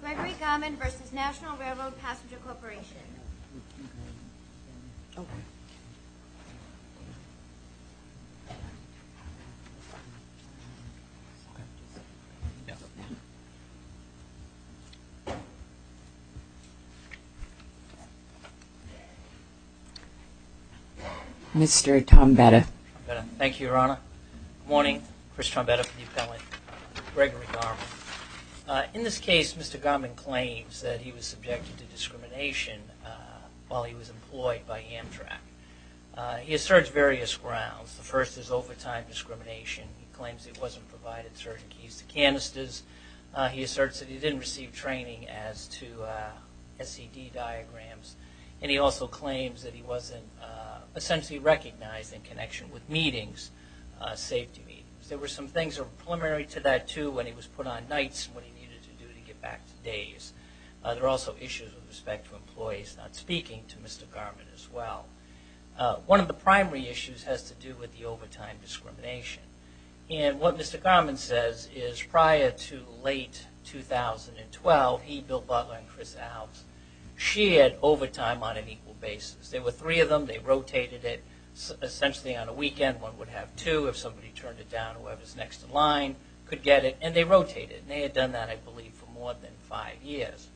Gregory Garmon v. Nat'l Railroad Passenger Corp. Mr. Tombetta. Thank you, Your Honor. Good morning. Chris Tombetta for the appellate. Gregory Garmon. In this case, Mr. Garmon claims that he was subjected to discrimination while he was employed by Amtrak. He asserts various grounds. The first is overtime discrimination. He claims he wasn't provided certain keys to canisters. He asserts that he didn't receive training as to SED diagrams. And he also claims that he wasn't essentially recognized in connection with meetings, safety meetings. There were some things that were preliminary to that, too, when he was put on nights and what he needed to do to get back to days. There were also issues with respect to employees not speaking to Mr. Garmon as well. One of the primary issues has to do with the overtime discrimination. And what Mr. Garmon says is prior to late 2012, he, Bill Butler, and Chris Alves, she had overtime on an equal basis. There were three of them. They rotated it essentially on a weekend. One would have two if somebody turned it down. Whoever was next in line could get it. And they rotated it. And they had done that, I believe, for more than five years.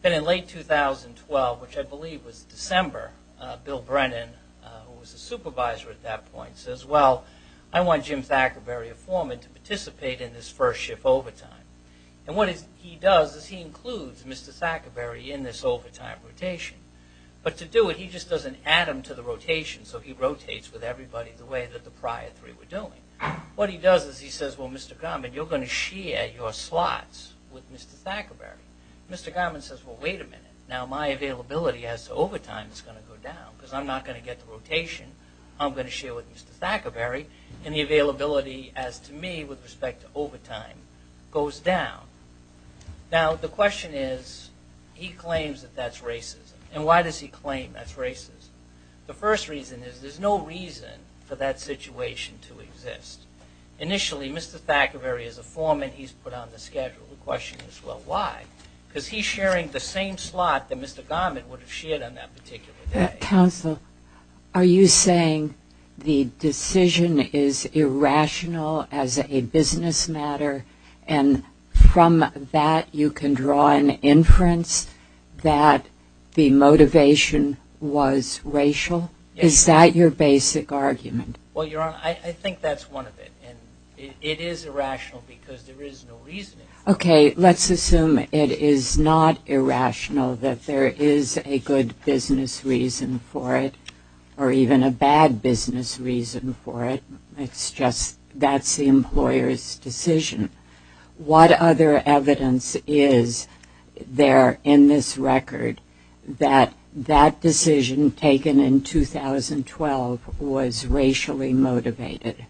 Then in late 2012, which I believe was December, Bill Brennan, who was the supervisor at that point, says, well, I want Jim Thackerberry, a foreman, to participate in this first shift overtime. And what he does is he includes Mr. Thackerberry in this overtime rotation. But to do it, he just doesn't add him to the rotation. So he rotates with everybody the way that the prior three were doing. What he does is he says, well, Mr. Garmon, you're going to share your slots with Mr. Thackerberry. Mr. Garmon says, well, wait a minute. Now my availability as to overtime is going to go down because I'm not going to get the rotation. I'm going to share with Mr. Thackerberry. And the availability as to me with respect to overtime goes down. Now the question is he claims that that's racism. And why does he claim that's racism? The first reason is there's no reason for that situation to exist. Initially, Mr. Thackerberry is a foreman. He's put on the schedule. The question is, well, why? Because he's sharing the same slot that Mr. Garmon would have shared on that particular day. Counsel, are you saying the decision is irrational as a business matter and from that you can draw an inference that the motivation was racial? Is that your basic argument? Well, Your Honor, I think that's one of it. And it is irrational because there is no reason. Okay. Let's assume it is not irrational that there is a good business reason for it or even a bad business reason for it. It's just that's the employer's decision. What other evidence is there in this record that that decision taken in 2012 was racially motivated?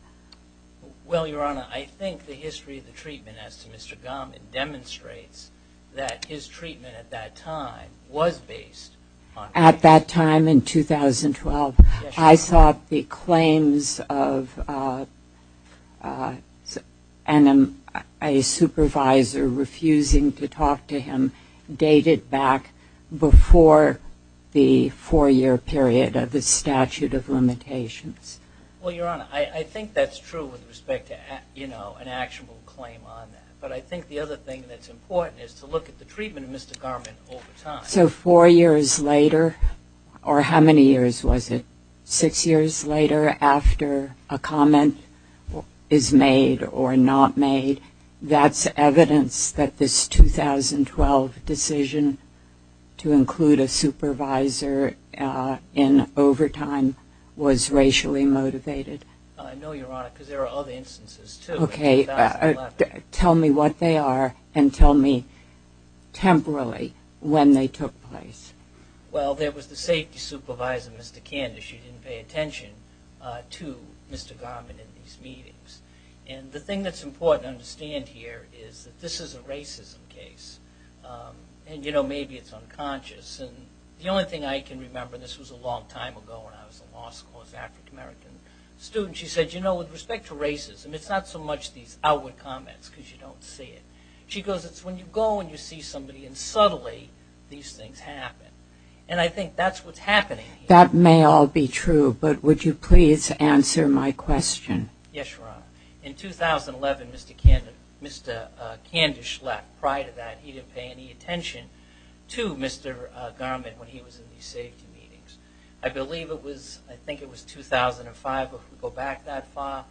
Well, Your Honor, I think the history of the treatment as to Mr. Garmon demonstrates that his treatment at that time was based on racial motivation. Yes, Your Honor. And I thought the claims of a supervisor refusing to talk to him dated back before the four-year period of the statute of limitations. Well, Your Honor, I think that's true with respect to, you know, an actionable claim on that. But I think the other thing that's important is to look at the treatment of Mr. Garmon over time. So four years later or how many years was it? Six years later after a comment is made or not made, that's evidence that this 2012 decision to include a supervisor in overtime was racially motivated? No, Your Honor, because there are other instances, too. Okay, tell me what they are and tell me temporarily when they took place. Well, there was the safety supervisor, Mr. Candace. She didn't pay attention to Mr. Garmon in these meetings. And the thing that's important to understand here is that this is a racism case. And, you know, maybe it's unconscious. And the only thing I can remember, and this was a long time ago when I was a law school, she said, you know, with respect to racism, it's not so much these outward comments because you don't see it. She goes, it's when you go and you see somebody and subtly these things happen. And I think that's what's happening here. That may all be true, but would you please answer my question? Yes, Your Honor. In 2011, Mr. Candace left. Prior to that, he didn't pay any attention to Mr. Garmon when he was in these safety meetings. I believe it was, I think it was 2005. If we go back that far,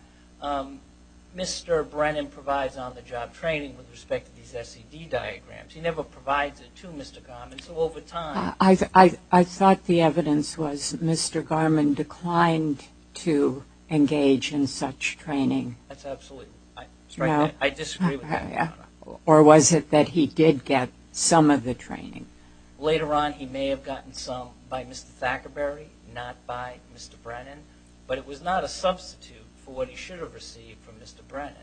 Mr. Brennan provides on-the-job training with respect to these SED diagrams. He never provides it to Mr. Garmon. So over time. I thought the evidence was Mr. Garmon declined to engage in such training. That's absolutely right. I disagree with that, Your Honor. Or was it that he did get some of the training? Later on, he may have gotten some by Mr. Thackerberry, not by Mr. Brennan, but it was not a substitute for what he should have received from Mr. Brennan.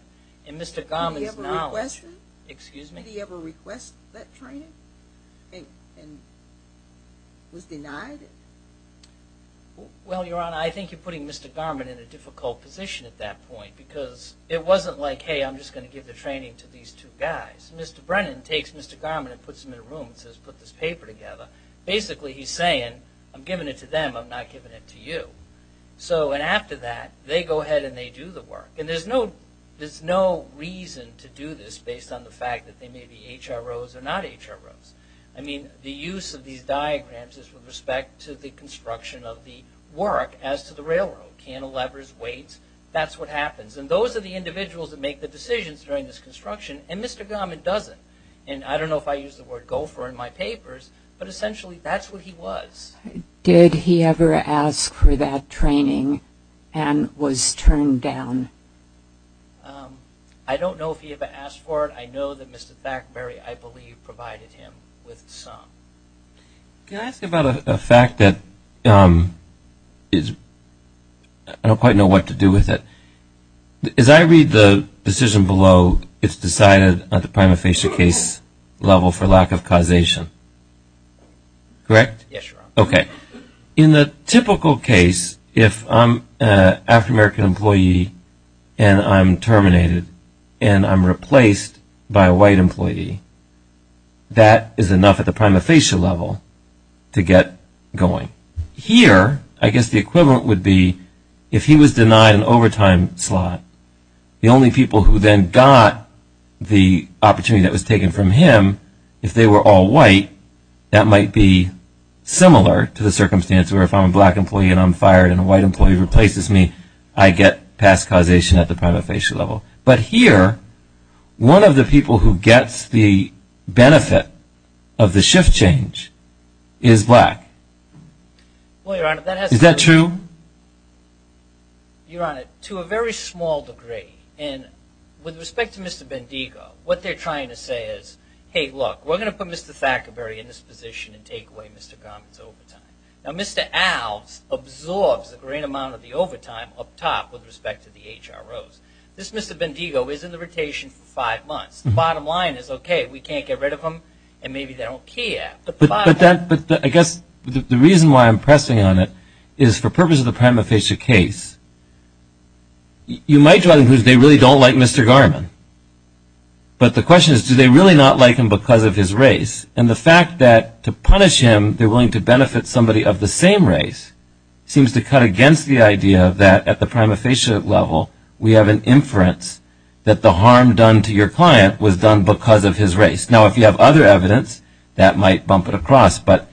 And Mr. Garmon's knowledge. Did he ever request that training and was denied it? Well, Your Honor, I think you're putting Mr. Garmon in a difficult position at that point because it wasn't like, hey, I'm just going to give the training to these two guys. Mr. Brennan takes Mr. Garmon and puts him in a room and says, put this paper together. Basically, he's saying, I'm giving it to them, I'm not giving it to you. And after that, they go ahead and they do the work. And there's no reason to do this based on the fact that they may be HROs or not HROs. I mean, the use of these diagrams is with respect to the construction of the work as to the railroad. Cantilevers, weights, that's what happens. And those are the individuals that make the decisions during this construction. And Mr. Garmon doesn't. And I don't know if I used the word gopher in my papers, but essentially that's what he was. Did he ever ask for that training and was turned down? I don't know if he ever asked for it. I know that Mr. Thackberry, I believe, provided him with some. Can I ask about a fact that I don't quite know what to do with it? As I read the decision below, it's decided at the prima facie case level for lack of causation. Correct? Yes, Your Honor. Okay. In the typical case, if I'm an African-American employee and I'm terminated and I'm replaced by a white employee, that is enough at the prima facie level to get going. Here, I guess the equivalent would be if he was denied an overtime slot, the only people who then got the opportunity that was taken from him, if they were all white, that might be similar to the circumstance where if I'm a black employee and I'm fired and a white employee replaces me, I get past causation at the prima facie level. But here, one of the people who gets the benefit of the shift change is black. Is that true? Your Honor, to a very small degree. And with respect to Mr. Bendigo, what they're trying to say is, hey, look, we're going to put Mr. Thackberry in this position and take away Mr. Garment's overtime. Now, Mr. Alves absorbs a great amount of the overtime up top with respect to the HROs. This Mr. Bendigo is in the rotation for five months. The bottom line is, okay, we can't get rid of him and maybe they don't care. But I guess the reason why I'm pressing on it is for purpose of the prima facie case, you might draw the conclusion they really don't like Mr. Garment. But the question is, do they really not like him because of his race? And the fact that to punish him they're willing to benefit somebody of the same race seems to cut against the idea that at the prima facie level, we have an inference that the harm done to your client was done because of his race. Now, if you have other evidence, that might bump it across. But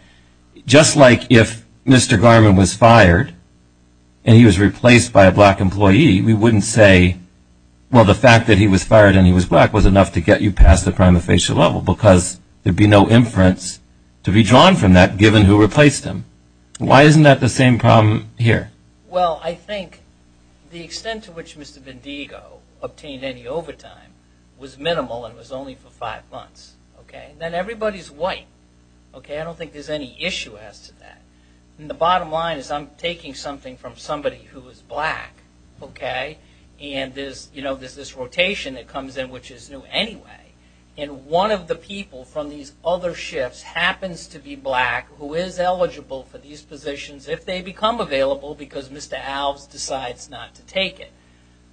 just like if Mr. Garment was fired and he was replaced by a black employee, we wouldn't say, well, the fact that he was fired and he was black was enough to get you past the prima facie level because there would be no inference to be drawn from that given who replaced him. Why isn't that the same problem here? Well, I think the extent to which Mr. Vendigo obtained any overtime was minimal and was only for five months. Then everybody's white. I don't think there's any issue as to that. And the bottom line is I'm taking something from somebody who is black, okay, and there's this rotation that comes in which is new anyway. And one of the people from these other shifts happens to be black who is eligible for these positions if they become available because Mr. Alves decides not to take it.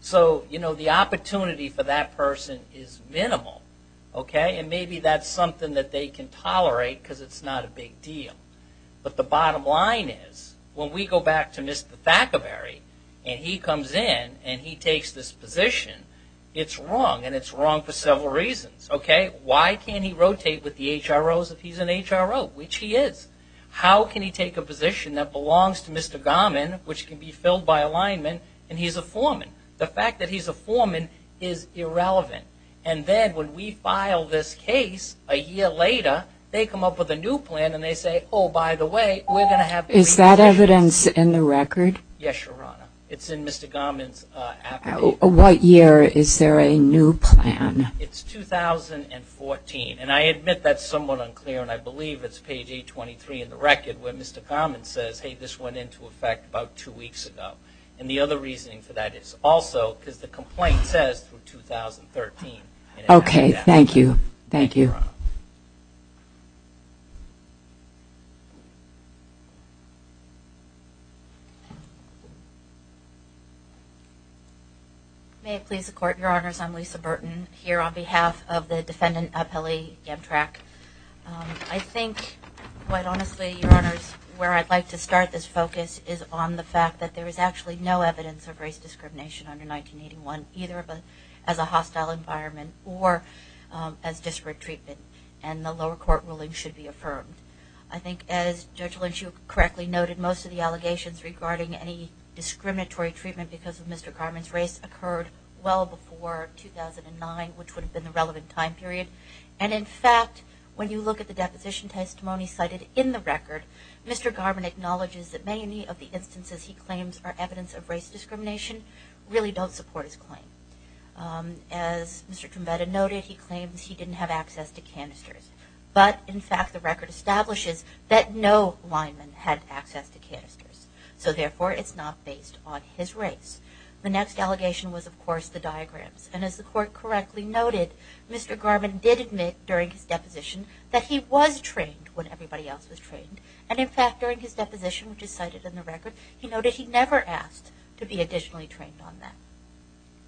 So the opportunity for that person is minimal. And maybe that's something that they can tolerate because it's not a big deal. But the bottom line is when we go back to Mr. Thackerberry and he comes in and he takes this position, it's wrong and it's wrong for several reasons, okay. Why can't he rotate with the HROs if he's an HRO, which he is. How can he take a position that belongs to Mr. Garmin which can be filled by alignment and he's a foreman? The fact that he's a foreman is irrelevant. And then when we file this case a year later, they come up with a new plan and they say, oh, by the way, we're going to have three positions. Is that evidence in the record? Yes, Your Honor. It's in Mr. Garmin's affidavit. What year is there a new plan? It's 2014. And I admit that's somewhat unclear and I believe it's page 823 in the record where Mr. Garmin says, hey, this went into effect about two weeks ago. And the other reasoning for that is also because the complaint says 2013. Okay, thank you. Thank you, Your Honor. May it please the Court, Your Honors. I'm Lisa Burton here on behalf of the defendant, Apelli Gamtrak. I think, quite honestly, Your Honors, where I'd like to start this focus is on the fact that there is actually no evidence of race discrimination under 1981, either as a hostile environment or as disparate treatment, and the lower court ruling should be affirmed. I think, as Judge Lynch, you correctly noted, most of the allegations regarding any discriminatory treatment because of Mr. Garmin's race occurred well before 2009, which would have been the relevant time period. And, in fact, when you look at the deposition testimony cited in the record, Mr. Garmin acknowledges that many of the instances he claims are evidence of race discrimination really don't support his claim. As Mr. Trumbetta noted, he claims he didn't have access to canisters. But, in fact, the record establishes that no linemen had access to canisters. So, therefore, it's not based on his race. The next allegation was, of course, the diagrams. And, as the Court correctly noted, Mr. Garmin did admit during his deposition that he was trained when everybody else was trained. And, in fact, during his deposition, which is cited in the record, he noted he never asked to be additionally trained on that.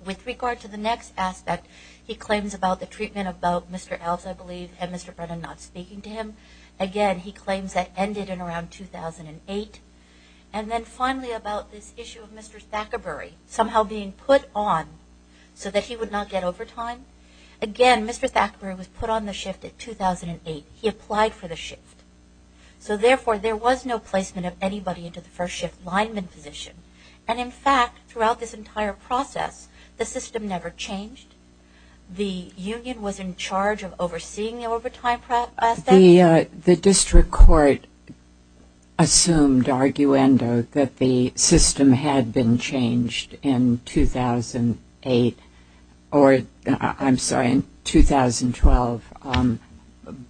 With regard to the next aspect, he claims about the treatment about Mr. Elves, I believe, and Mr. Brennan not speaking to him. Again, he claims that ended in around 2008. And then, finally, about this issue of Mr. Thackerbery somehow being put on so that he would not get overtime. Again, Mr. Thackerbery was put on the shift in 2008. He applied for the shift. So, therefore, there was no placement of anybody into the first shift lineman position. And, in fact, throughout this entire process, the system never changed. The union was in charge of overseeing the overtime process? The district court assumed arguendo that the system had been changed in 2008 or, I'm sorry, in 2012,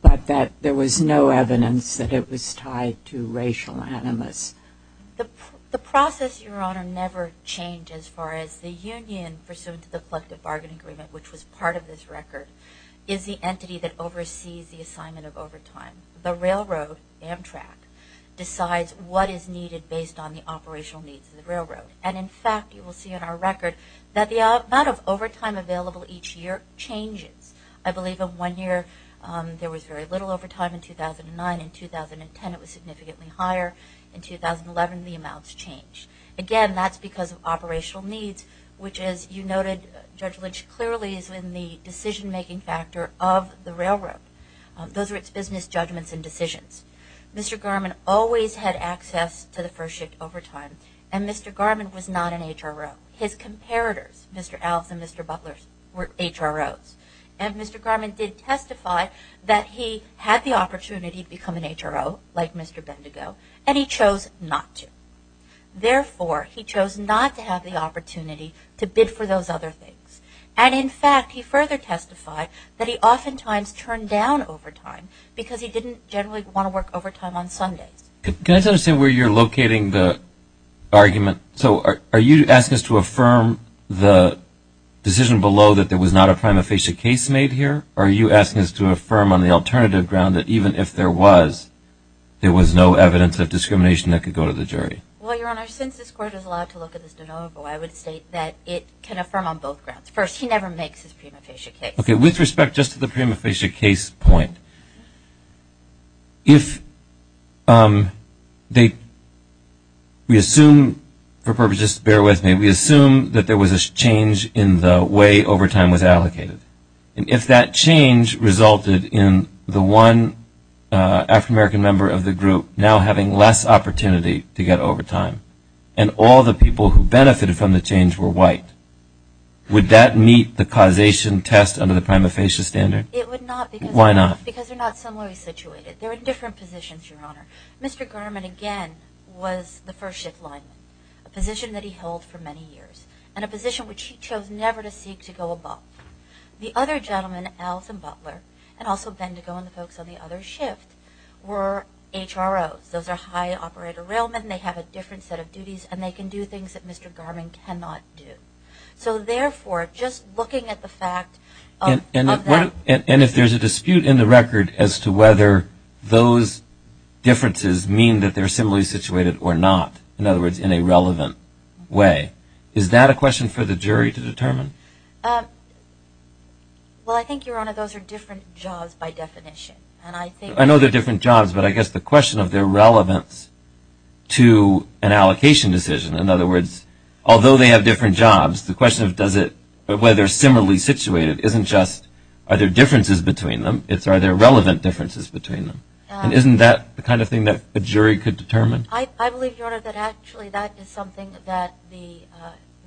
but that there was no evidence that it was tied to racial animus. The process, Your Honor, never changed as far as the union, pursuant to the collective bargain agreement, which was part of this record, is the entity that oversees the assignment of overtime. The railroad, Amtrak, decides what is needed based on the operational needs of the railroad. And, in fact, you will see in our record that the amount of overtime available each year changes. I believe in one year there was very little overtime. In 2009 and 2010 it was significantly higher. In 2011 the amounts changed. Again, that's because of operational needs, which, as you noted, Judge Lynch, clearly is in the decision-making factor of the railroad. Those are its business judgments and decisions. Mr. Garmon always had access to the first shift overtime. And Mr. Garmon was not an HRO. His comparators, Mr. Alves and Mr. Butler, were HROs. And Mr. Garmon did testify that he had the opportunity to become an HRO, like Mr. Bendigo, and he chose not to. Therefore, he chose not to have the opportunity to bid for those other things. And, in fact, he further testified that he oftentimes turned down overtime because he didn't generally want to work overtime on Sundays. So are you asking us to affirm the decision below that there was not a prima facie case made here, or are you asking us to affirm on the alternative ground that even if there was, there was no evidence of discrimination that could go to the jury? Well, Your Honor, since this Court is allowed to look at this de novo, I would state that it can affirm on both grounds. First, he never makes his prima facie case. Okay, with respect just to the prima facie case point, if we assume, for purposes, bear with me, we assume that there was a change in the way overtime was allocated, and if that change resulted in the one African-American member of the group now having less opportunity to get overtime, and all the people who benefited from the change were white, would that meet the causation test under the prima facie standard? It would not. Why not? Because they're not similarly situated. They're in different positions, Your Honor. Mr. Garman, again, was the first shift lineman, a position that he held for many years, and a position which he chose never to seek to go above. The other gentlemen, Alton Butler, and also Bendigo and the folks on the other shift, were HROs. Those are high operator railmen. They have a different set of duties, and they can do things that Mr. Garman cannot do. So, therefore, just looking at the fact of that. And if there's a dispute in the record as to whether those differences mean that they're similarly situated or not, in other words, in a relevant way, is that a question for the jury to determine? Well, I think, Your Honor, those are different jobs by definition. I know they're different jobs, but I guess the question of their relevance to an allocation decision, in other words, although they have different jobs, the question of whether they're similarly situated isn't just are there differences between them, it's are there relevant differences between them. And isn't that the kind of thing that a jury could determine? I believe, Your Honor, that actually that is something that the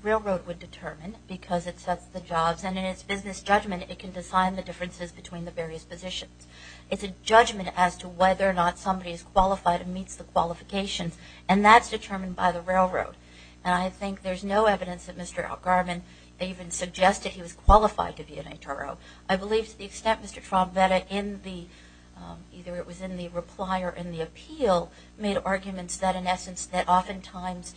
railroad would determine because it sets the jobs, and in its business judgment, it can decide the differences between the various positions. It's a judgment as to whether or not somebody is qualified and meets the qualifications, and that's determined by the railroad. And I think there's no evidence that Mr. Elgarman even suggested he was qualified to be an HRO. I believe to the extent Mr. Traubetta in the, either it was in the reply or in the appeal, made arguments that in essence that oftentimes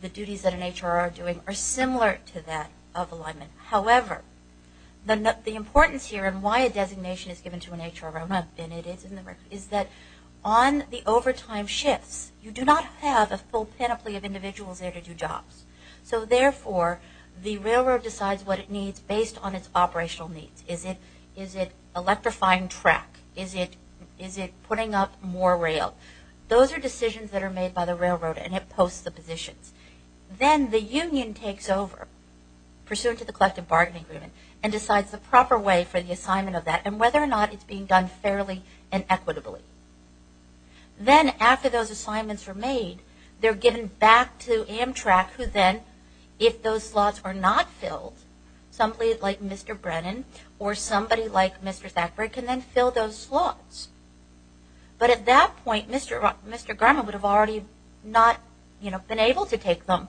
the duties that an HRO are doing are similar to that of alignment. However, the importance here and why a designation is given to an HRO, and it is in the record, is that on the overtime shifts, you do not have a full panoply of individuals there to do jobs. So therefore, the railroad decides what it needs based on its operational needs. Is it electrifying track? Is it putting up more rail? Those are decisions that are made by the railroad, and it posts the positions. Then the union takes over, pursuant to the collective bargaining agreement, and decides the proper way for the assignment of that and whether or not it's being done fairly and equitably. Then after those assignments are made, they're given back to Amtrak, who then, if those slots are not filled, somebody like Mr. Brennan or somebody like Mr. Thackberg can then fill those slots. But at that point, Mr. Grumman would have already not been able to take them,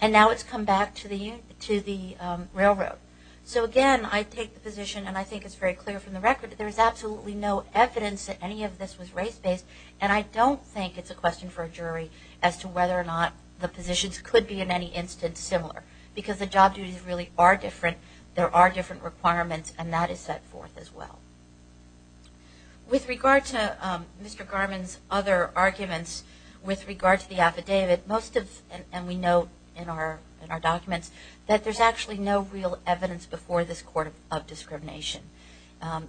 and now it's come back to the railroad. So again, I take the position, and I think it's very clear from the record, that there is absolutely no evidence that any of this was race-based, and I don't think it's a question for a jury as to whether or not the positions could be in any instance similar, because the job duties really are different, there are different requirements, and that is set forth as well. With regard to Mr. Grumman's other arguments, with regard to the affidavit, most of, and we note in our documents, that there's actually no real evidence before this court of discrimination.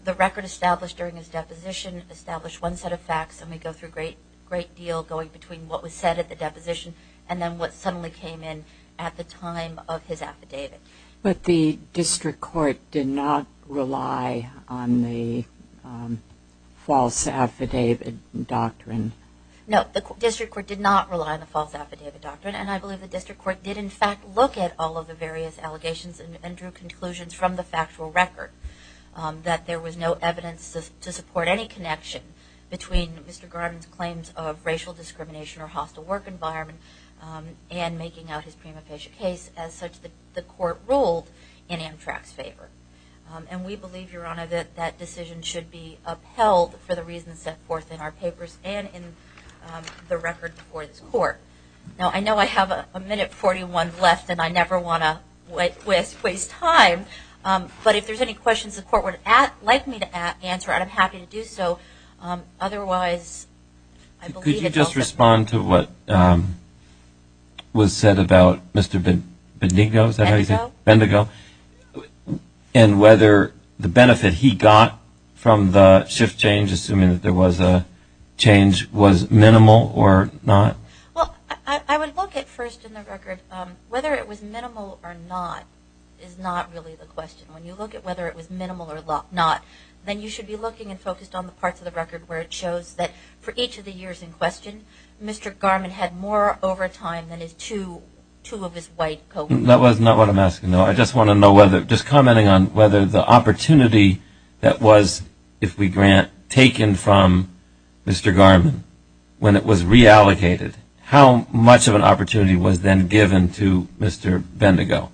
The record established during his deposition established one set of facts, and we go through a great deal going between what was said at the deposition and then what suddenly came in at the time of his affidavit. But the district court did not rely on the false affidavit doctrine? No, the district court did not rely on the false affidavit doctrine, and I believe the district court did in fact look at all of the various allegations and drew conclusions from the factual record, that there was no evidence to support any connection between Mr. Grumman's claims of racial discrimination or hostile work environment and making out his prima facie case, as such the court ruled in Amtrak's favor. And we believe, Your Honor, that that decision should be upheld for the reasons set forth in our papers and in the record before this court. Now I know I have a minute 41 left and I never want to waste time, but if there's any questions the court would like me to answer, I'm happy to do so. Could you just respond to what was said about Mr. Bendigo and whether the benefit he got from the shift change, assuming that there was a change, was minimal or not? Well, I would look at first in the record whether it was minimal or not is not really the question. When you look at whether it was minimal or not, then you should be looking and focused on the parts of the record where it shows that for each of the years in question, Mr. Garman had more overtime than his two of his white co-workers. That was not what I'm asking. No, I just want to know whether, just commenting on whether the opportunity that was, if we grant, taken from Mr. Garman when it was reallocated, how much of an opportunity was then given to Mr. Bendigo?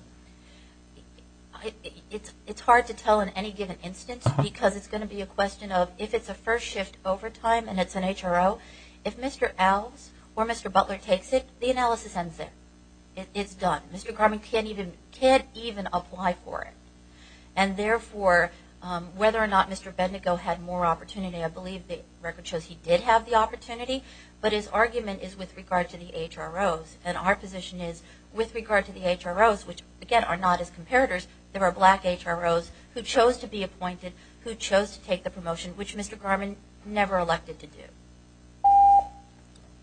It's hard to tell in any given instance because it's going to be a question of if it's a first shift overtime and it's an HRO, if Mr. Alves or Mr. Butler takes it, the analysis ends there. It's done. Mr. Garman can't even apply for it. And therefore, whether or not Mr. Bendigo had more opportunity, I believe the record shows he did have the opportunity, but his argument is with regard to the HROs. And our position is with regard to the HROs, which, again, are not as comparators, there are black HROs who chose to be appointed, who chose to take the promotion, which Mr. Garman never elected to do.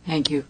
Thank you.